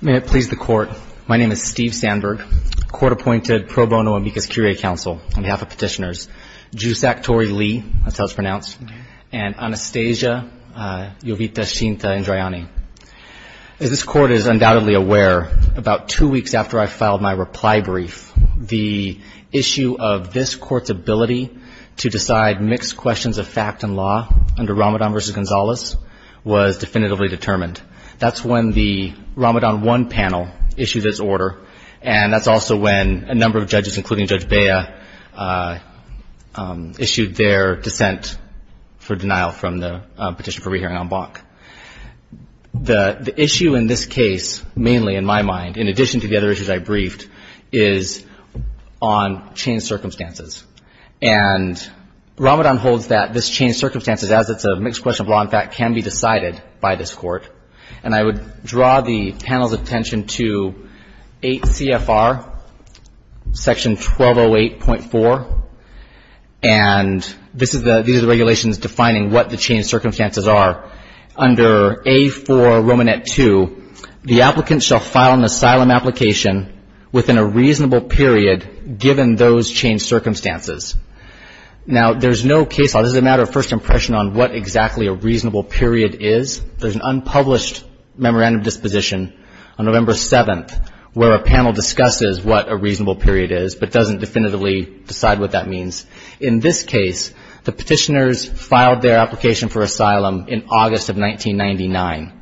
May it please the Court, my name is Steve Sandberg, Court-Appointed Pro Bono and Mukasey Curiae Counsel on behalf of Petitioners, Jusak Tori Lee, that's how it's pronounced, and Anastasia Jovita Shinta Indrayani. As this Court is undoubtedly aware, about two weeks after I filed my reply brief, the issue of this Court's ability to decide mixed questions of fact and law under Ramadan v. Gonzalez was definitively determined. That's when the Ramadan 1 panel issued its order, and that's also when a number of judges, including Judge Bea, issued their dissent for denial from the Petition for Rehearing en banc. The issue in this case, mainly in my mind, in addition to the other issues I briefed, is on changed circumstances. And Ramadan holds that this changed circumstances, as it's a mixed question of law and fact, can be decided by this Court. And I would draw the panel's attention to 8 CFR, section 1208.4, and this is the, these are the regulations defining what the changed circumstances are. Under A4, Romanet 2, the applicant shall file an asylum application within a reasonable period, given those changed circumstances. Now, there's no case law, this is a matter of first impression on what exactly a reasonable period is. There's an unpublished memorandum disposition on November 7th, where a panel discusses what a reasonable period is, but doesn't definitively decide what that means. In this case, the petitioners filed their application for asylum in August of 1999.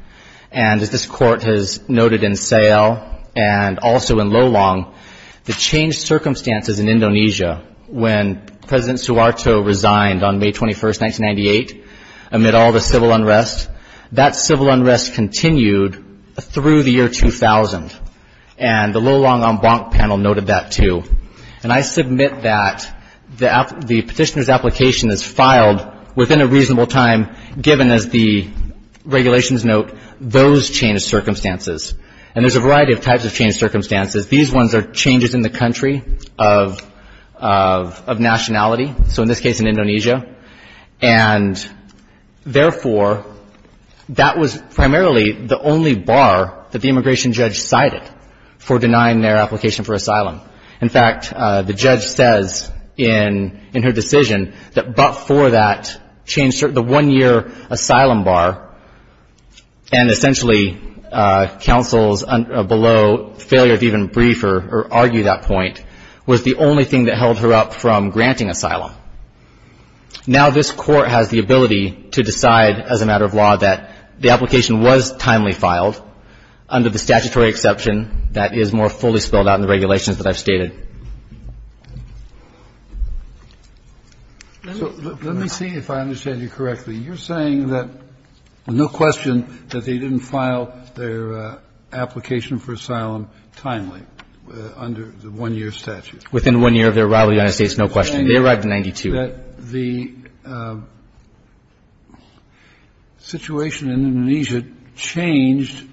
And as this Court has noted in Sayal, and also in Lolong, the changed circumstances, 1998, amid all the civil unrest, that civil unrest continued through the year 2000. And the Lolong on Blanc panel noted that too. And I submit that the petitioner's application is filed within a reasonable time, given, as the regulations note, those changed circumstances. And there's a variety of types of changed circumstances. These ones are changes in the country of nationality, so in this case, in Indonesia. And therefore, that was primarily the only bar that the immigration judge cited for denying their application for asylum. In fact, the judge says in her decision that but for that change, the one-year asylum bar, and essentially counsels below, failure to even brief her, or argue that point, was the only thing that held her up from granting asylum. Now this Court has the ability to decide as a matter of law that the application was timely filed under the statutory exception that is more fully spelled out in the regulations that I've stated. Kennedy. Kennedy. So let me see if I understand you correctly. You're saying that, no question, that they didn't file their application for asylum timely under the one-year statute? Within one year of their arrival in the United States, no question. They arrived in 1992. You're saying that the situation in Indonesia changed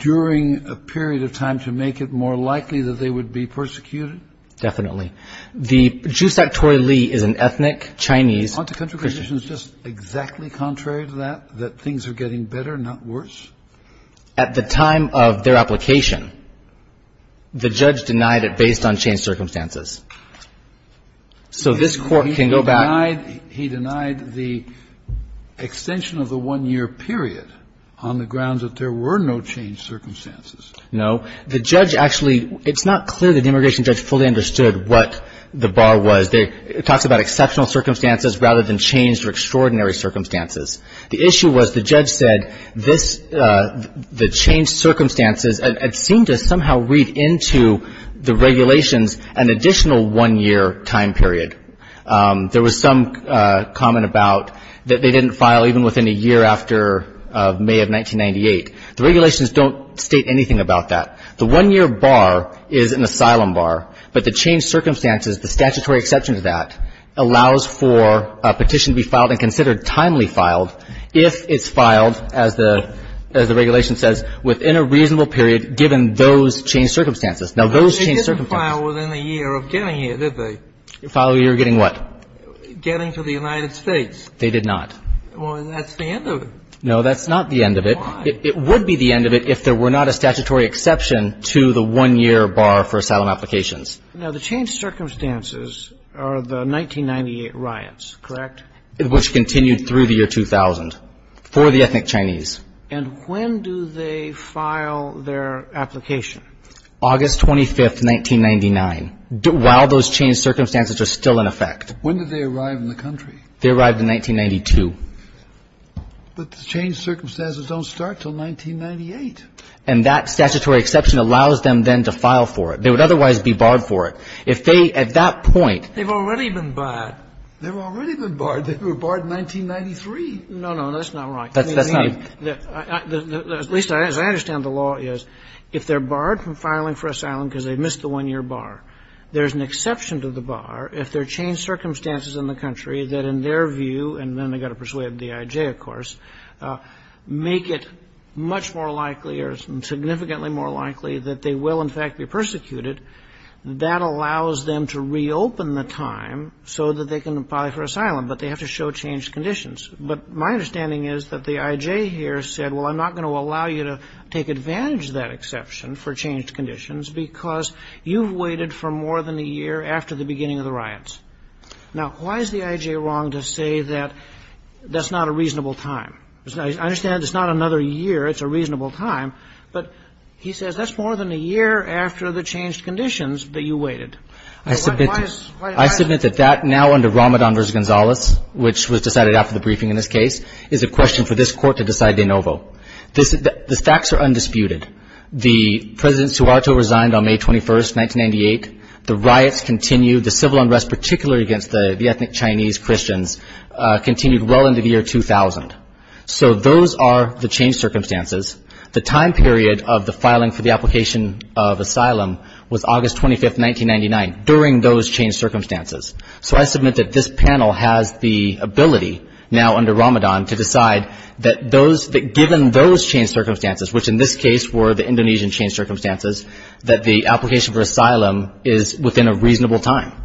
during a period of time to make it more likely that they would be persecuted? Definitely. The Jusak Tori Lee is an ethnic Chinese Christian. So the situation is just exactly contrary to that, that things are getting better, not worse? At the time of their application, the judge denied it based on changed circumstances. So this Court can go back to the 1992 case. He denied the extension of the one-year period on the grounds that there were no changed circumstances? No. The judge actually – it's not clear that the immigration judge fully understood what the bar was. It talks about exceptional circumstances rather than changed or extraordinary circumstances. The issue was the judge said this – the changed circumstances had seemed to somehow read into the regulations an additional one-year time period. There was some comment about that they didn't file even within a year after May of 1998. The regulations don't state anything about that. The one-year bar is an asylum bar, but the changed circumstances, the statutory exception to that, allows for a petition to be filed and considered timely filed if it's filed, as the – as the regulation says, within a reasonable period given those changed circumstances. Now, those changed circumstances – But they didn't file within a year of getting here, did they? File within a year of getting what? Getting to the United States. They did not. Well, that's the end of it. No, that's not the end of it. Why? It would be the end of it if there were not a statutory exception to the one-year bar for asylum applications. Now, the changed circumstances are the 1998 riots, correct? Which continued through the year 2000 for the ethnic Chinese. And when do they file their application? August 25th, 1999, while those changed circumstances are still in effect. When did they arrive in the country? They arrived in 1992. But the changed circumstances don't start until 1998. And that statutory exception allows them then to file for it. They would otherwise be barred for it. If they, at that point – They've already been barred. They've already been barred. They were barred in 1993. No, no. That's not right. That's not – At least, as I understand the law is, if they're barred from filing for asylum because they missed the one-year bar, there's an exception to the bar if there are changed circumstances in the country that, in their view – and then they've got to persuade the DIJ, of course – make it much more likely or significantly more likely that they will, in fact, be persecuted. That allows them to reopen the time so that they can file for asylum, but they have to show changed conditions. But my understanding is that the I.J. here said, well, I'm not going to allow you to take advantage of that exception for changed conditions because you've waited for more than a year after the beginning of the riots. Now, why is the I.J. wrong to say that that's not a reasonable time? I understand it's not another year. It's a reasonable time. But he says that's more than a year after the changed conditions that you waited. Why is – I submit that that, now under Ramadan v. Gonzalez, which was decided after the briefing in this case, is a question for this Court to decide de novo. The facts are undisputed. The President Suharto resigned on May 21, 1998. The riots continued. The civil unrest, particularly against the ethnic Chinese Christians, continued well into the year 2000. So those are the changed circumstances. The time period of the filing for the application of asylum was August 25, 1999, during those changed circumstances. So I submit that this panel has the ability, now under Ramadan, to decide that those – that given those changed circumstances, which in this case were the Indonesian changed circumstances, that the application for asylum is within a reasonable time.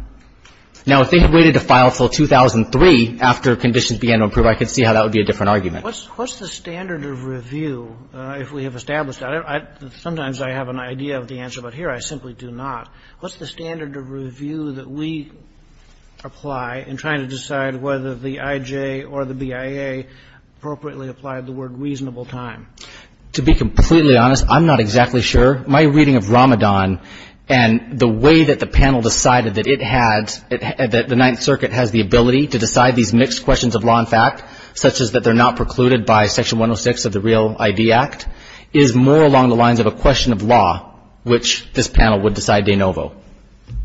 Now, if they had waited to file until 2003 after conditions began to improve, I could see how that would be a different argument. What's the standard of review, if we have established that? Sometimes I have an idea of the answer, but here I simply do not. What's the standard of review that we apply in trying to decide whether the IJ or the BIA appropriately applied the word reasonable time? To be completely honest, I'm not exactly sure. My reading of Ramadan and the way that the panel decided that it had – that the Ninth Circuit has the ability to decide these mixed questions of law and fact, such as that they're not precluded by Section 106 of the Real ID Act, is more along the lines of a question of law, which this panel would decide de novo.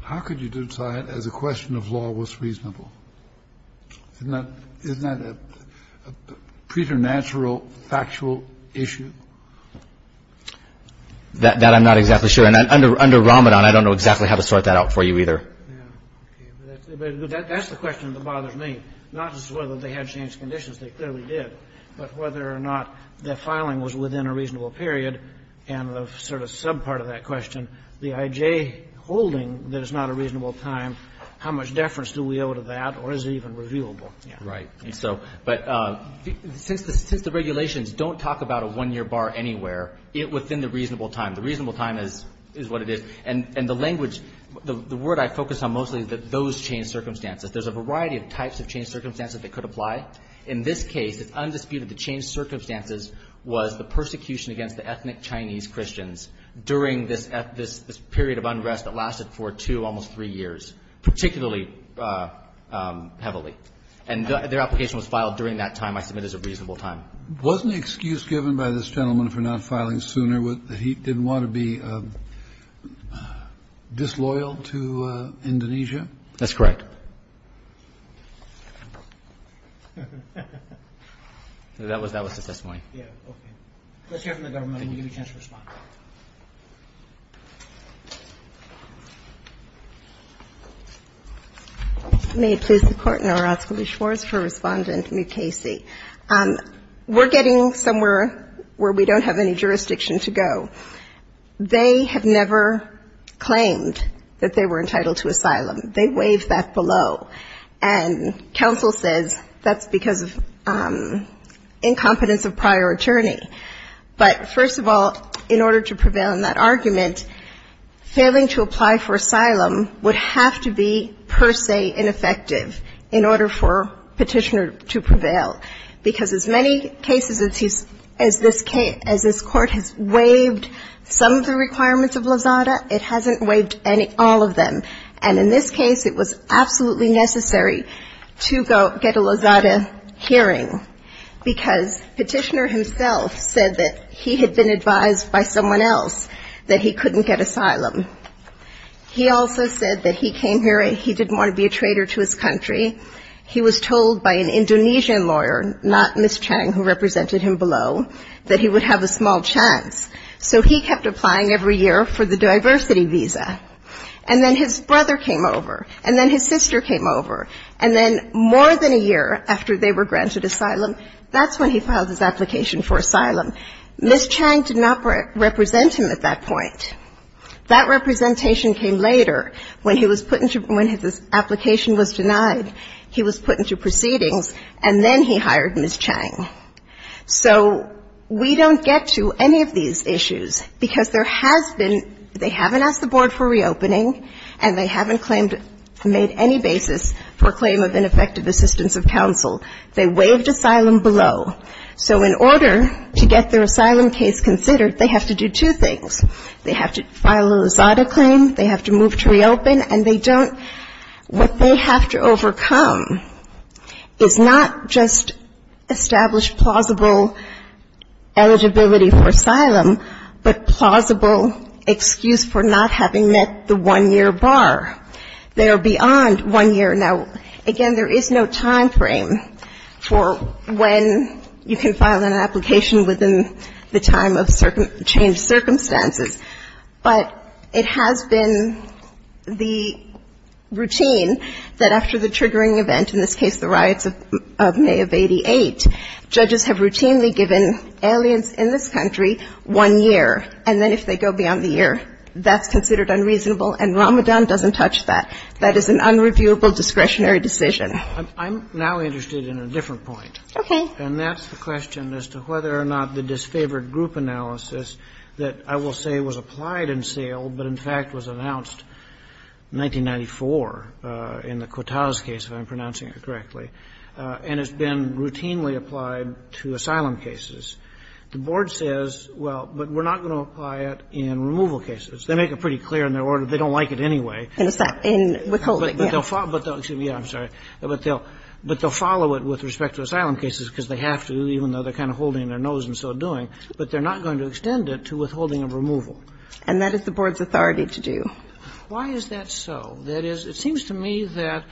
How could you decide as a question of law what's reasonable? Isn't that a preternatural factual issue? That I'm not exactly sure. And under Ramadan, I don't know exactly how to sort that out for you either. Yeah. Okay. But that's the question that bothers me, not as to whether they had changed the conditions. They clearly did. But whether or not the filing was within a reasonable period and the sort of subpart of that question, the IJ holding that it's not a reasonable time, how much deference do we owe to that, or is it even reviewable? Right. And so – but since the regulations don't talk about a one-year bar anywhere, it's within the reasonable time. The reasonable time is what it is. And the language – the word I focus on mostly is that those changed circumstances. There's a variety of types of changed circumstances that could apply. In this case, it's undisputed the changed circumstances was the persecution against the ethnic Chinese Christians during this period of unrest that lasted for two, almost three years, particularly heavily. And their application was filed during that time, I submit, as a reasonable time. Wasn't the excuse given by this gentleman for not filing sooner that he didn't want to be disloyal to Indonesia? That's correct. That was the testimony. Let's hear from the government. We'll give you a chance to respond. May it please the Court, and I'll ask Ms. Schwartz for Respondent Mukasey. We're getting somewhere where we don't have any jurisdiction to go. They have never claimed that they were entitled to asylum. They waive that below. And counsel says that's because of incompetence of prior attorney. But first of all, in order to prevail in that argument, failing to apply for asylum would have to be per se ineffective in order for Petitioner to prevail, because as many cases as this Court has waived some of the requirements of Lozada, it hasn't waived all of them. And in this case, it was absolutely necessary to get a Lozada hearing, because Petitioner himself said that he had been advised by someone else that he couldn't get asylum. He also said that he came here and he didn't want to be a traitor to his country. He was told by an Indonesian lawyer, not Ms. Chang, who represented him below, that he would have a small chance. So he kept applying every year for the diversity visa. And then his brother came over, and then his sister came over, and then more than a year after they were granted asylum, that's when he filed his application for asylum. Ms. Chang did not represent him at that point. That representation came later, when he was put into – when his application was denied. He was put into proceedings, and then he hired Ms. Chang. So we don't get to any of these issues, because there has been – they haven't asked the Board for reopening, and they haven't claimed – made any basis for claim of ineffective assistance of counsel. They waived asylum below. So in order to get their asylum case considered, they have to do two things. They have to file a Rosada claim, they have to move to reopen, and they don't – what they have to overcome is not just established plausible eligibility for asylum, but plausible excuse for not having met the one-year bar. They are beyond one year. Now, again, there is no timeframe for when you can file an application within the time of changed circumstances. But it has been the routine that after the triggering event, in this case the riots of May of 88, judges have routinely given aliens in this country one year. And then if they go beyond the year, that's considered unreasonable. And Ramadan doesn't touch that. That is an unreviewable discretionary decision. I'm now interested in a different point. Okay. And that's the question as to whether or not the disfavored group analysis that I will say was applied in sale but, in fact, was announced in 1994 in the Quotaz case, if I'm pronouncing it correctly, and has been routinely applied to asylum cases. The Board says, well, but we're not going to apply it in removal cases. They make it pretty clear in their order. They don't like it anyway. In withholding, yes. But they'll follow – excuse me, I'm sorry. But they'll follow it with respect to asylum cases because they have to, even though they're kind of holding their nose and so doing. But they're not going to extend it to withholding of removal. And that is the Board's authority to do. Why is that so? That is, it seems to me that,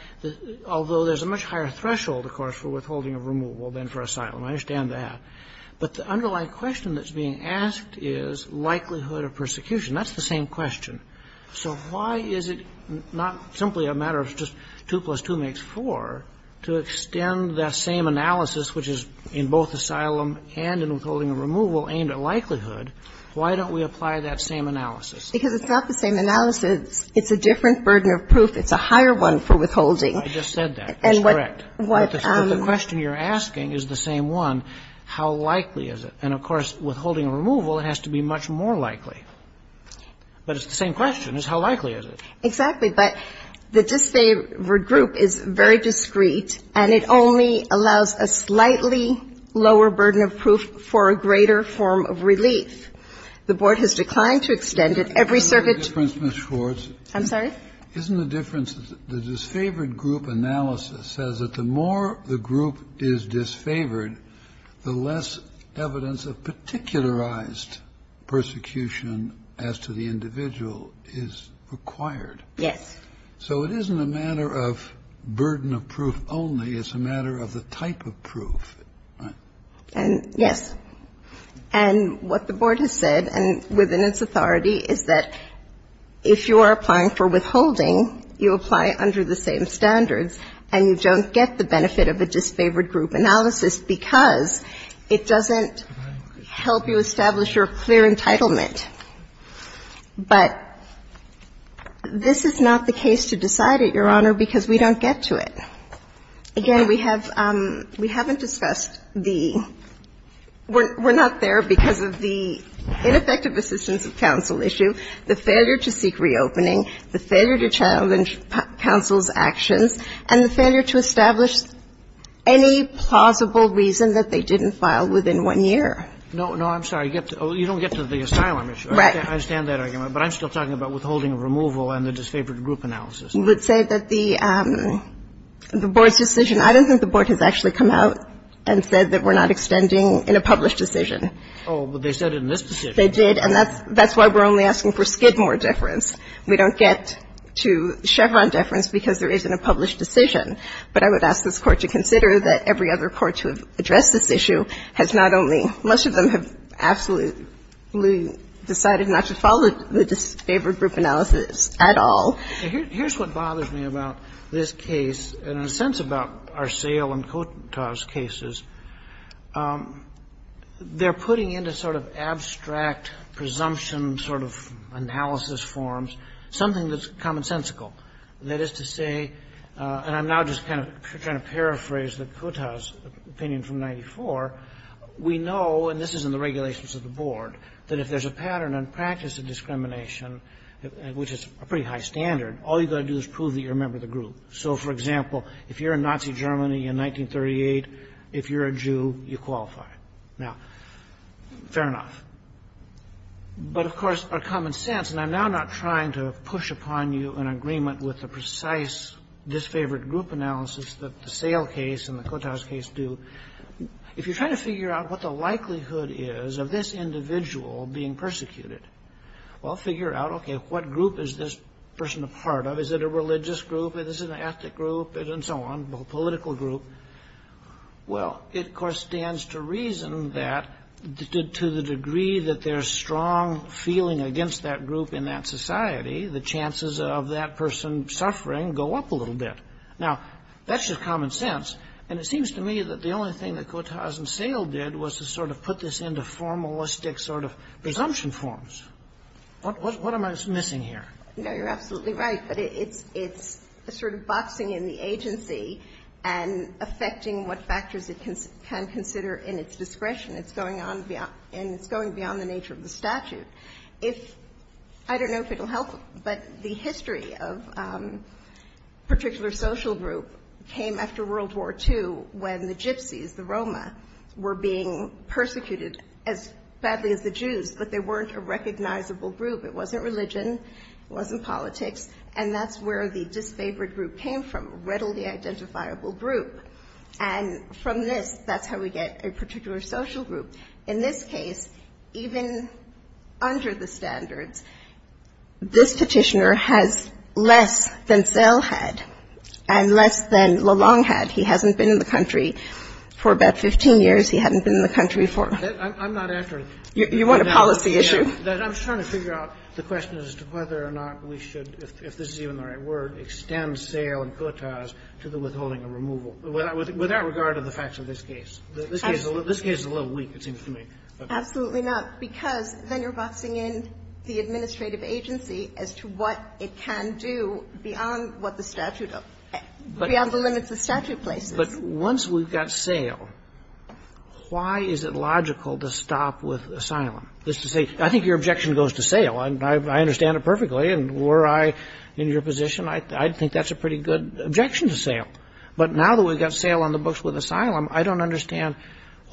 although there's a much higher threshold, of course, for withholding of removal than for asylum. I understand that. But the underlying question that's being asked is likelihood of persecution. That's the same question. So why is it not simply a matter of just 2 plus 2 makes 4 to extend that same analysis, which is in both asylum and in withholding of removal, aimed at likelihood? Why don't we apply that same analysis? Because it's not the same analysis. It's a different burden of proof. It's a higher one for withholding. I just said that. That's correct. But the question you're asking is the same one. How likely is it? And, of course, withholding of removal, it has to be much more likely. But it's the same question, is how likely is it? Exactly. But the disfavored group is very discreet, and it only allows a slightly lower burden of proof for a greater form of relief. The Board has declined to extend it. Every circuit to the court. I'm sorry? Isn't the difference that the disfavored group analysis says that the more the group is disfavored, the less evidence of particularized persecution as to the individual is required? Yes. So it isn't a matter of burden of proof only. It's a matter of the type of proof, right? Yes. And what the Board has said, and within its authority, is that if you are applying for withholding, you apply under the same standards, and you don't get the benefit of a disfavored group analysis because it doesn't help you establish your clear entitlement. But this is not the case to decide it, Your Honor, because we don't get to it. Again, we have we haven't discussed the we're not there because of the ineffective assistance of counsel issue, the failure to seek reopening, the failure to challenge counsel's actions, and the failure to establish any plausible reason that they didn't file within one year. No, no, I'm sorry. You don't get to the asylum issue. I understand that argument. But I'm still talking about withholding of removal and the disfavored group analysis. You would say that the Board's decision, I don't think the Board has actually come out and said that we're not extending in a published decision. Oh, but they said it in this decision. They did. And that's why we're only asking for Skidmore difference. We don't get to Chevron deference because there isn't a published decision. But I would ask this Court to consider that every other Court to have addressed this issue has not only, most of them have absolutely decided not to follow the disfavored group analysis at all. Here's what bothers me about this case, and in a sense about Arceo and Cotas cases. They're putting into sort of abstract presumption sort of analysis forms something that's commonsensical, that is to say, and I'm now just kind of trying to paraphrase the Cotas opinion from 94. We know, and this is in the regulations of the Board, that if there's a pattern and practice of discrimination, which is a pretty high standard, all you've got to do is prove that you're a member of the group. So, for example, if you're in Nazi Germany in 1938, if you're a Jew, you qualify. Now, fair enough. But, of course, our common sense, and I'm now not trying to push upon you an agreement with the precise disfavored group analysis that the Sale case and the Cotas case do. If you're trying to figure out what the likelihood is of this individual being persecuted, well, figure out, okay, what group is this person a part of? Is it a religious group? Is it an ethnic group? And so on, a political group. Well, it, of course, stands to reason that to the degree that there's strong feeling against that group in that society, the chances of that person suffering go up a little bit. Now, that's just common sense, and it seems to me that the only thing that Cotas and Sale did was to sort of put this into formalistic sort of presumption forms. What am I missing here? No, you're absolutely right, but it's sort of boxing in the agency and affecting what factors it can consider in its discretion. It's going on beyond the nature of the statute. If – I don't know if it will help, but the history of a particular social group came after World War II when the Gypsies, the Roma, were being persecuted as badly as the Jews, but they weren't a recognizable group. It wasn't religion. It wasn't politics. And that's where the disfavored group came from, readily identifiable group. And from this, that's how we get a particular social group. In this case, even under the standards, this petitioner has less than Sale had and less than Lalonde had. He hasn't been in the country for about 15 years. He hadn't been in the country for – I'm not accurate. You want a policy issue? I'm trying to figure out the question as to whether or not we should, if this is even the right word, extend Sale and Cotas to the withholding and removal, without regard to the facts of this case. This case is a little weak, it seems to me. Absolutely not, because then you're boxing in the administrative agency as to what it can do beyond what the statute – beyond the limits the statute places. But once we've got Sale, why is it logical to stop with Asylum? That's to say, I think your objection goes to Sale. I understand it perfectly. And were I in your position, I'd think that's a pretty good objection to Sale. But now that we've got Sale on the books with Asylum, I don't understand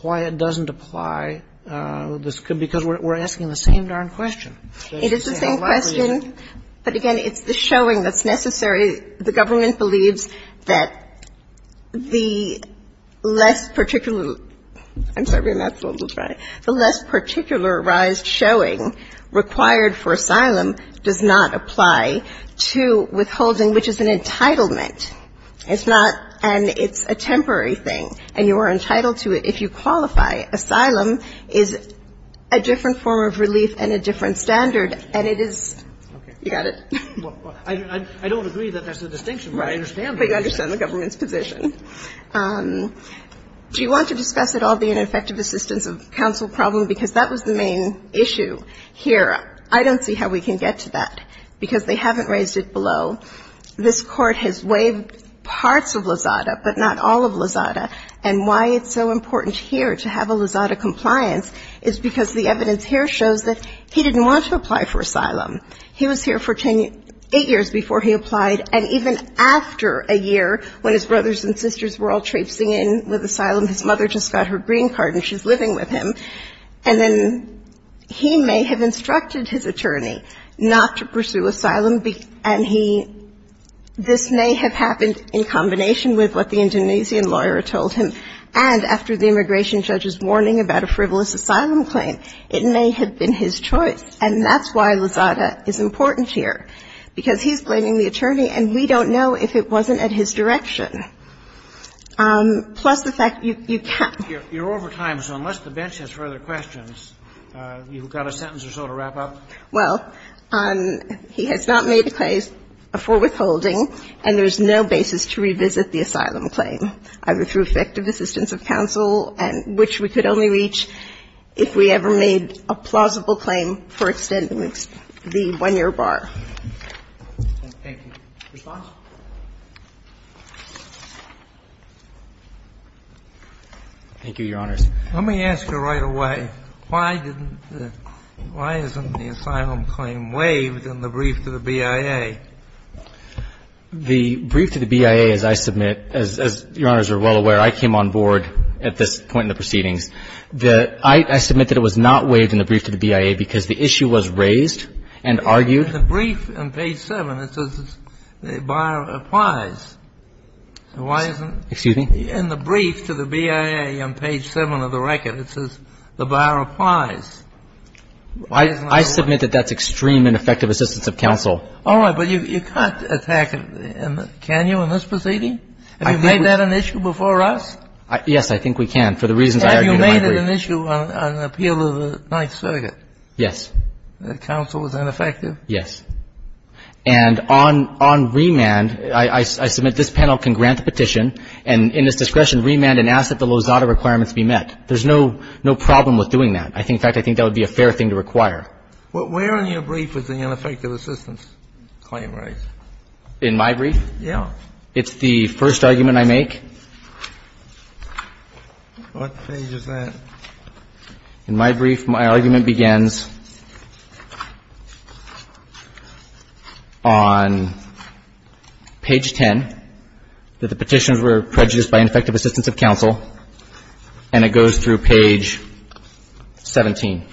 why it doesn't apply, because we're asking the same darn question. It is the same question. But again, it's the showing that's necessary. The government believes that the less particular – I'm sorry. The less particularized showing required for Asylum does not apply to withholding, which is an entitlement. It's not an – it's a temporary thing. And you are entitled to it if you qualify. Asylum is a different form of relief and a different standard. And it is – you got it? I don't agree that that's the distinction, but I understand the distinction. But you understand the government's position. Do you want to discuss it all being an effective assistance of counsel problem? Because that was the main issue here. I don't see how we can get to that, because they haven't raised it below. This Court has waived parts of Lozada, but not all of Lozada. And why it's so important here to have a Lozada compliance is because the evidence here shows that he didn't want to apply for Asylum. He was here for eight years before he applied. And even after a year, when his brothers and sisters were all traipsing in with Asylum, his mother just got her green card and she's living with him. And then he may have instructed his attorney not to pursue Asylum. And he – this may have happened in combination with what the Indonesian lawyer told him. And after the immigration judge's warning about a frivolous Asylum claim, it may have been his choice. And that's why Lozada is important here, because he's blaming the attorney and we don't know if it wasn't at his direction. Plus the fact you can't – You're over time, so unless the bench has further questions, you've got a sentence or so to wrap up. Well, he has not made a claim for withholding and there's no basis to revisit the Asylum claim, either through effective assistance of counsel, which we could only reach if we ever made a plausible claim for extending the one-year bar. Thank you. Response? Thank you, Your Honors. Let me ask you right away. Why didn't the – why isn't the Asylum claim waived in the brief to the BIA? The brief to the BIA, as I submit – as Your Honors are well aware, I came on board at this point in the proceedings. I submit that it was not waived in the brief to the BIA because the issue was raised and argued. In the brief on page 7, it says the bar applies. Why isn't – Excuse me? In the brief to the BIA on page 7 of the record, it says the bar applies. I submit that that's extreme and effective assistance of counsel. All right. But you can't attack – can you in this proceeding? Have you made that an issue before us? Yes, I think we can. And for the reasons I argued in my brief. Have you made it an issue on appeal of the Ninth Circuit? Yes. That counsel was ineffective? Yes. And on – on remand, I submit this panel can grant the petition and in its discretion remand and ask that the Lozada requirements be met. There's no – no problem with doing that. In fact, I think that would be a fair thing to require. But where in your brief is the ineffective assistance claim raised? In my brief? Yes. It's the first argument I make. What page is that? In my brief, my argument begins on page 10, that the petitioners were prejudiced by ineffective assistance of counsel, and it goes through page 17.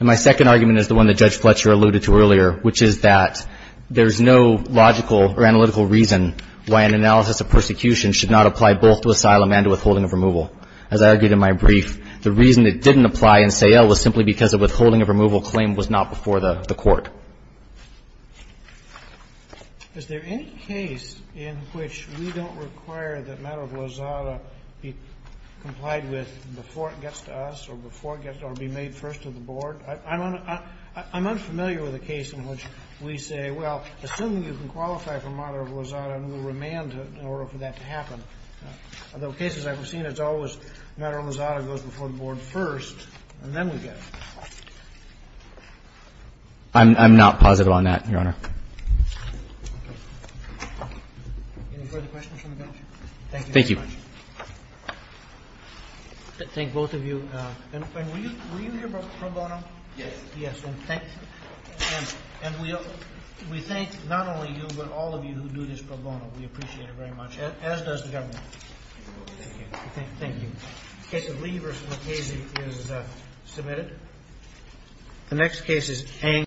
And my second argument is the one that Judge Fletcher alluded to earlier, which is that there's no logical or analytical reason why an analysis of persecution should not apply both to asylum and to withholding of removal. As I argued in my brief, the reason it didn't apply in Sayle was simply because a withholding of removal claim was not before the court. Is there any case in which we don't require that matter of Lozada be complied with before it gets to us or before it gets – or be made first to the board? I'm unfamiliar with a case in which we say, well, assuming you can qualify for matter of Lozada, and we'll remand it in order for that to happen. Although, cases I've seen, it's always matter of Lozada goes before the board first, and then we get it. I'm not positive on that, Your Honor. Any further questions from the panel? Thank you. Thank both of you. And were you here pro bono? Yes. Yes, and thank – and we thank not only you, but all of you who do this pro bono. We appreciate it very much, as does the government. Thank you. Thank you. The case of Lee v. MacKenzie is submitted. The next case is Ang.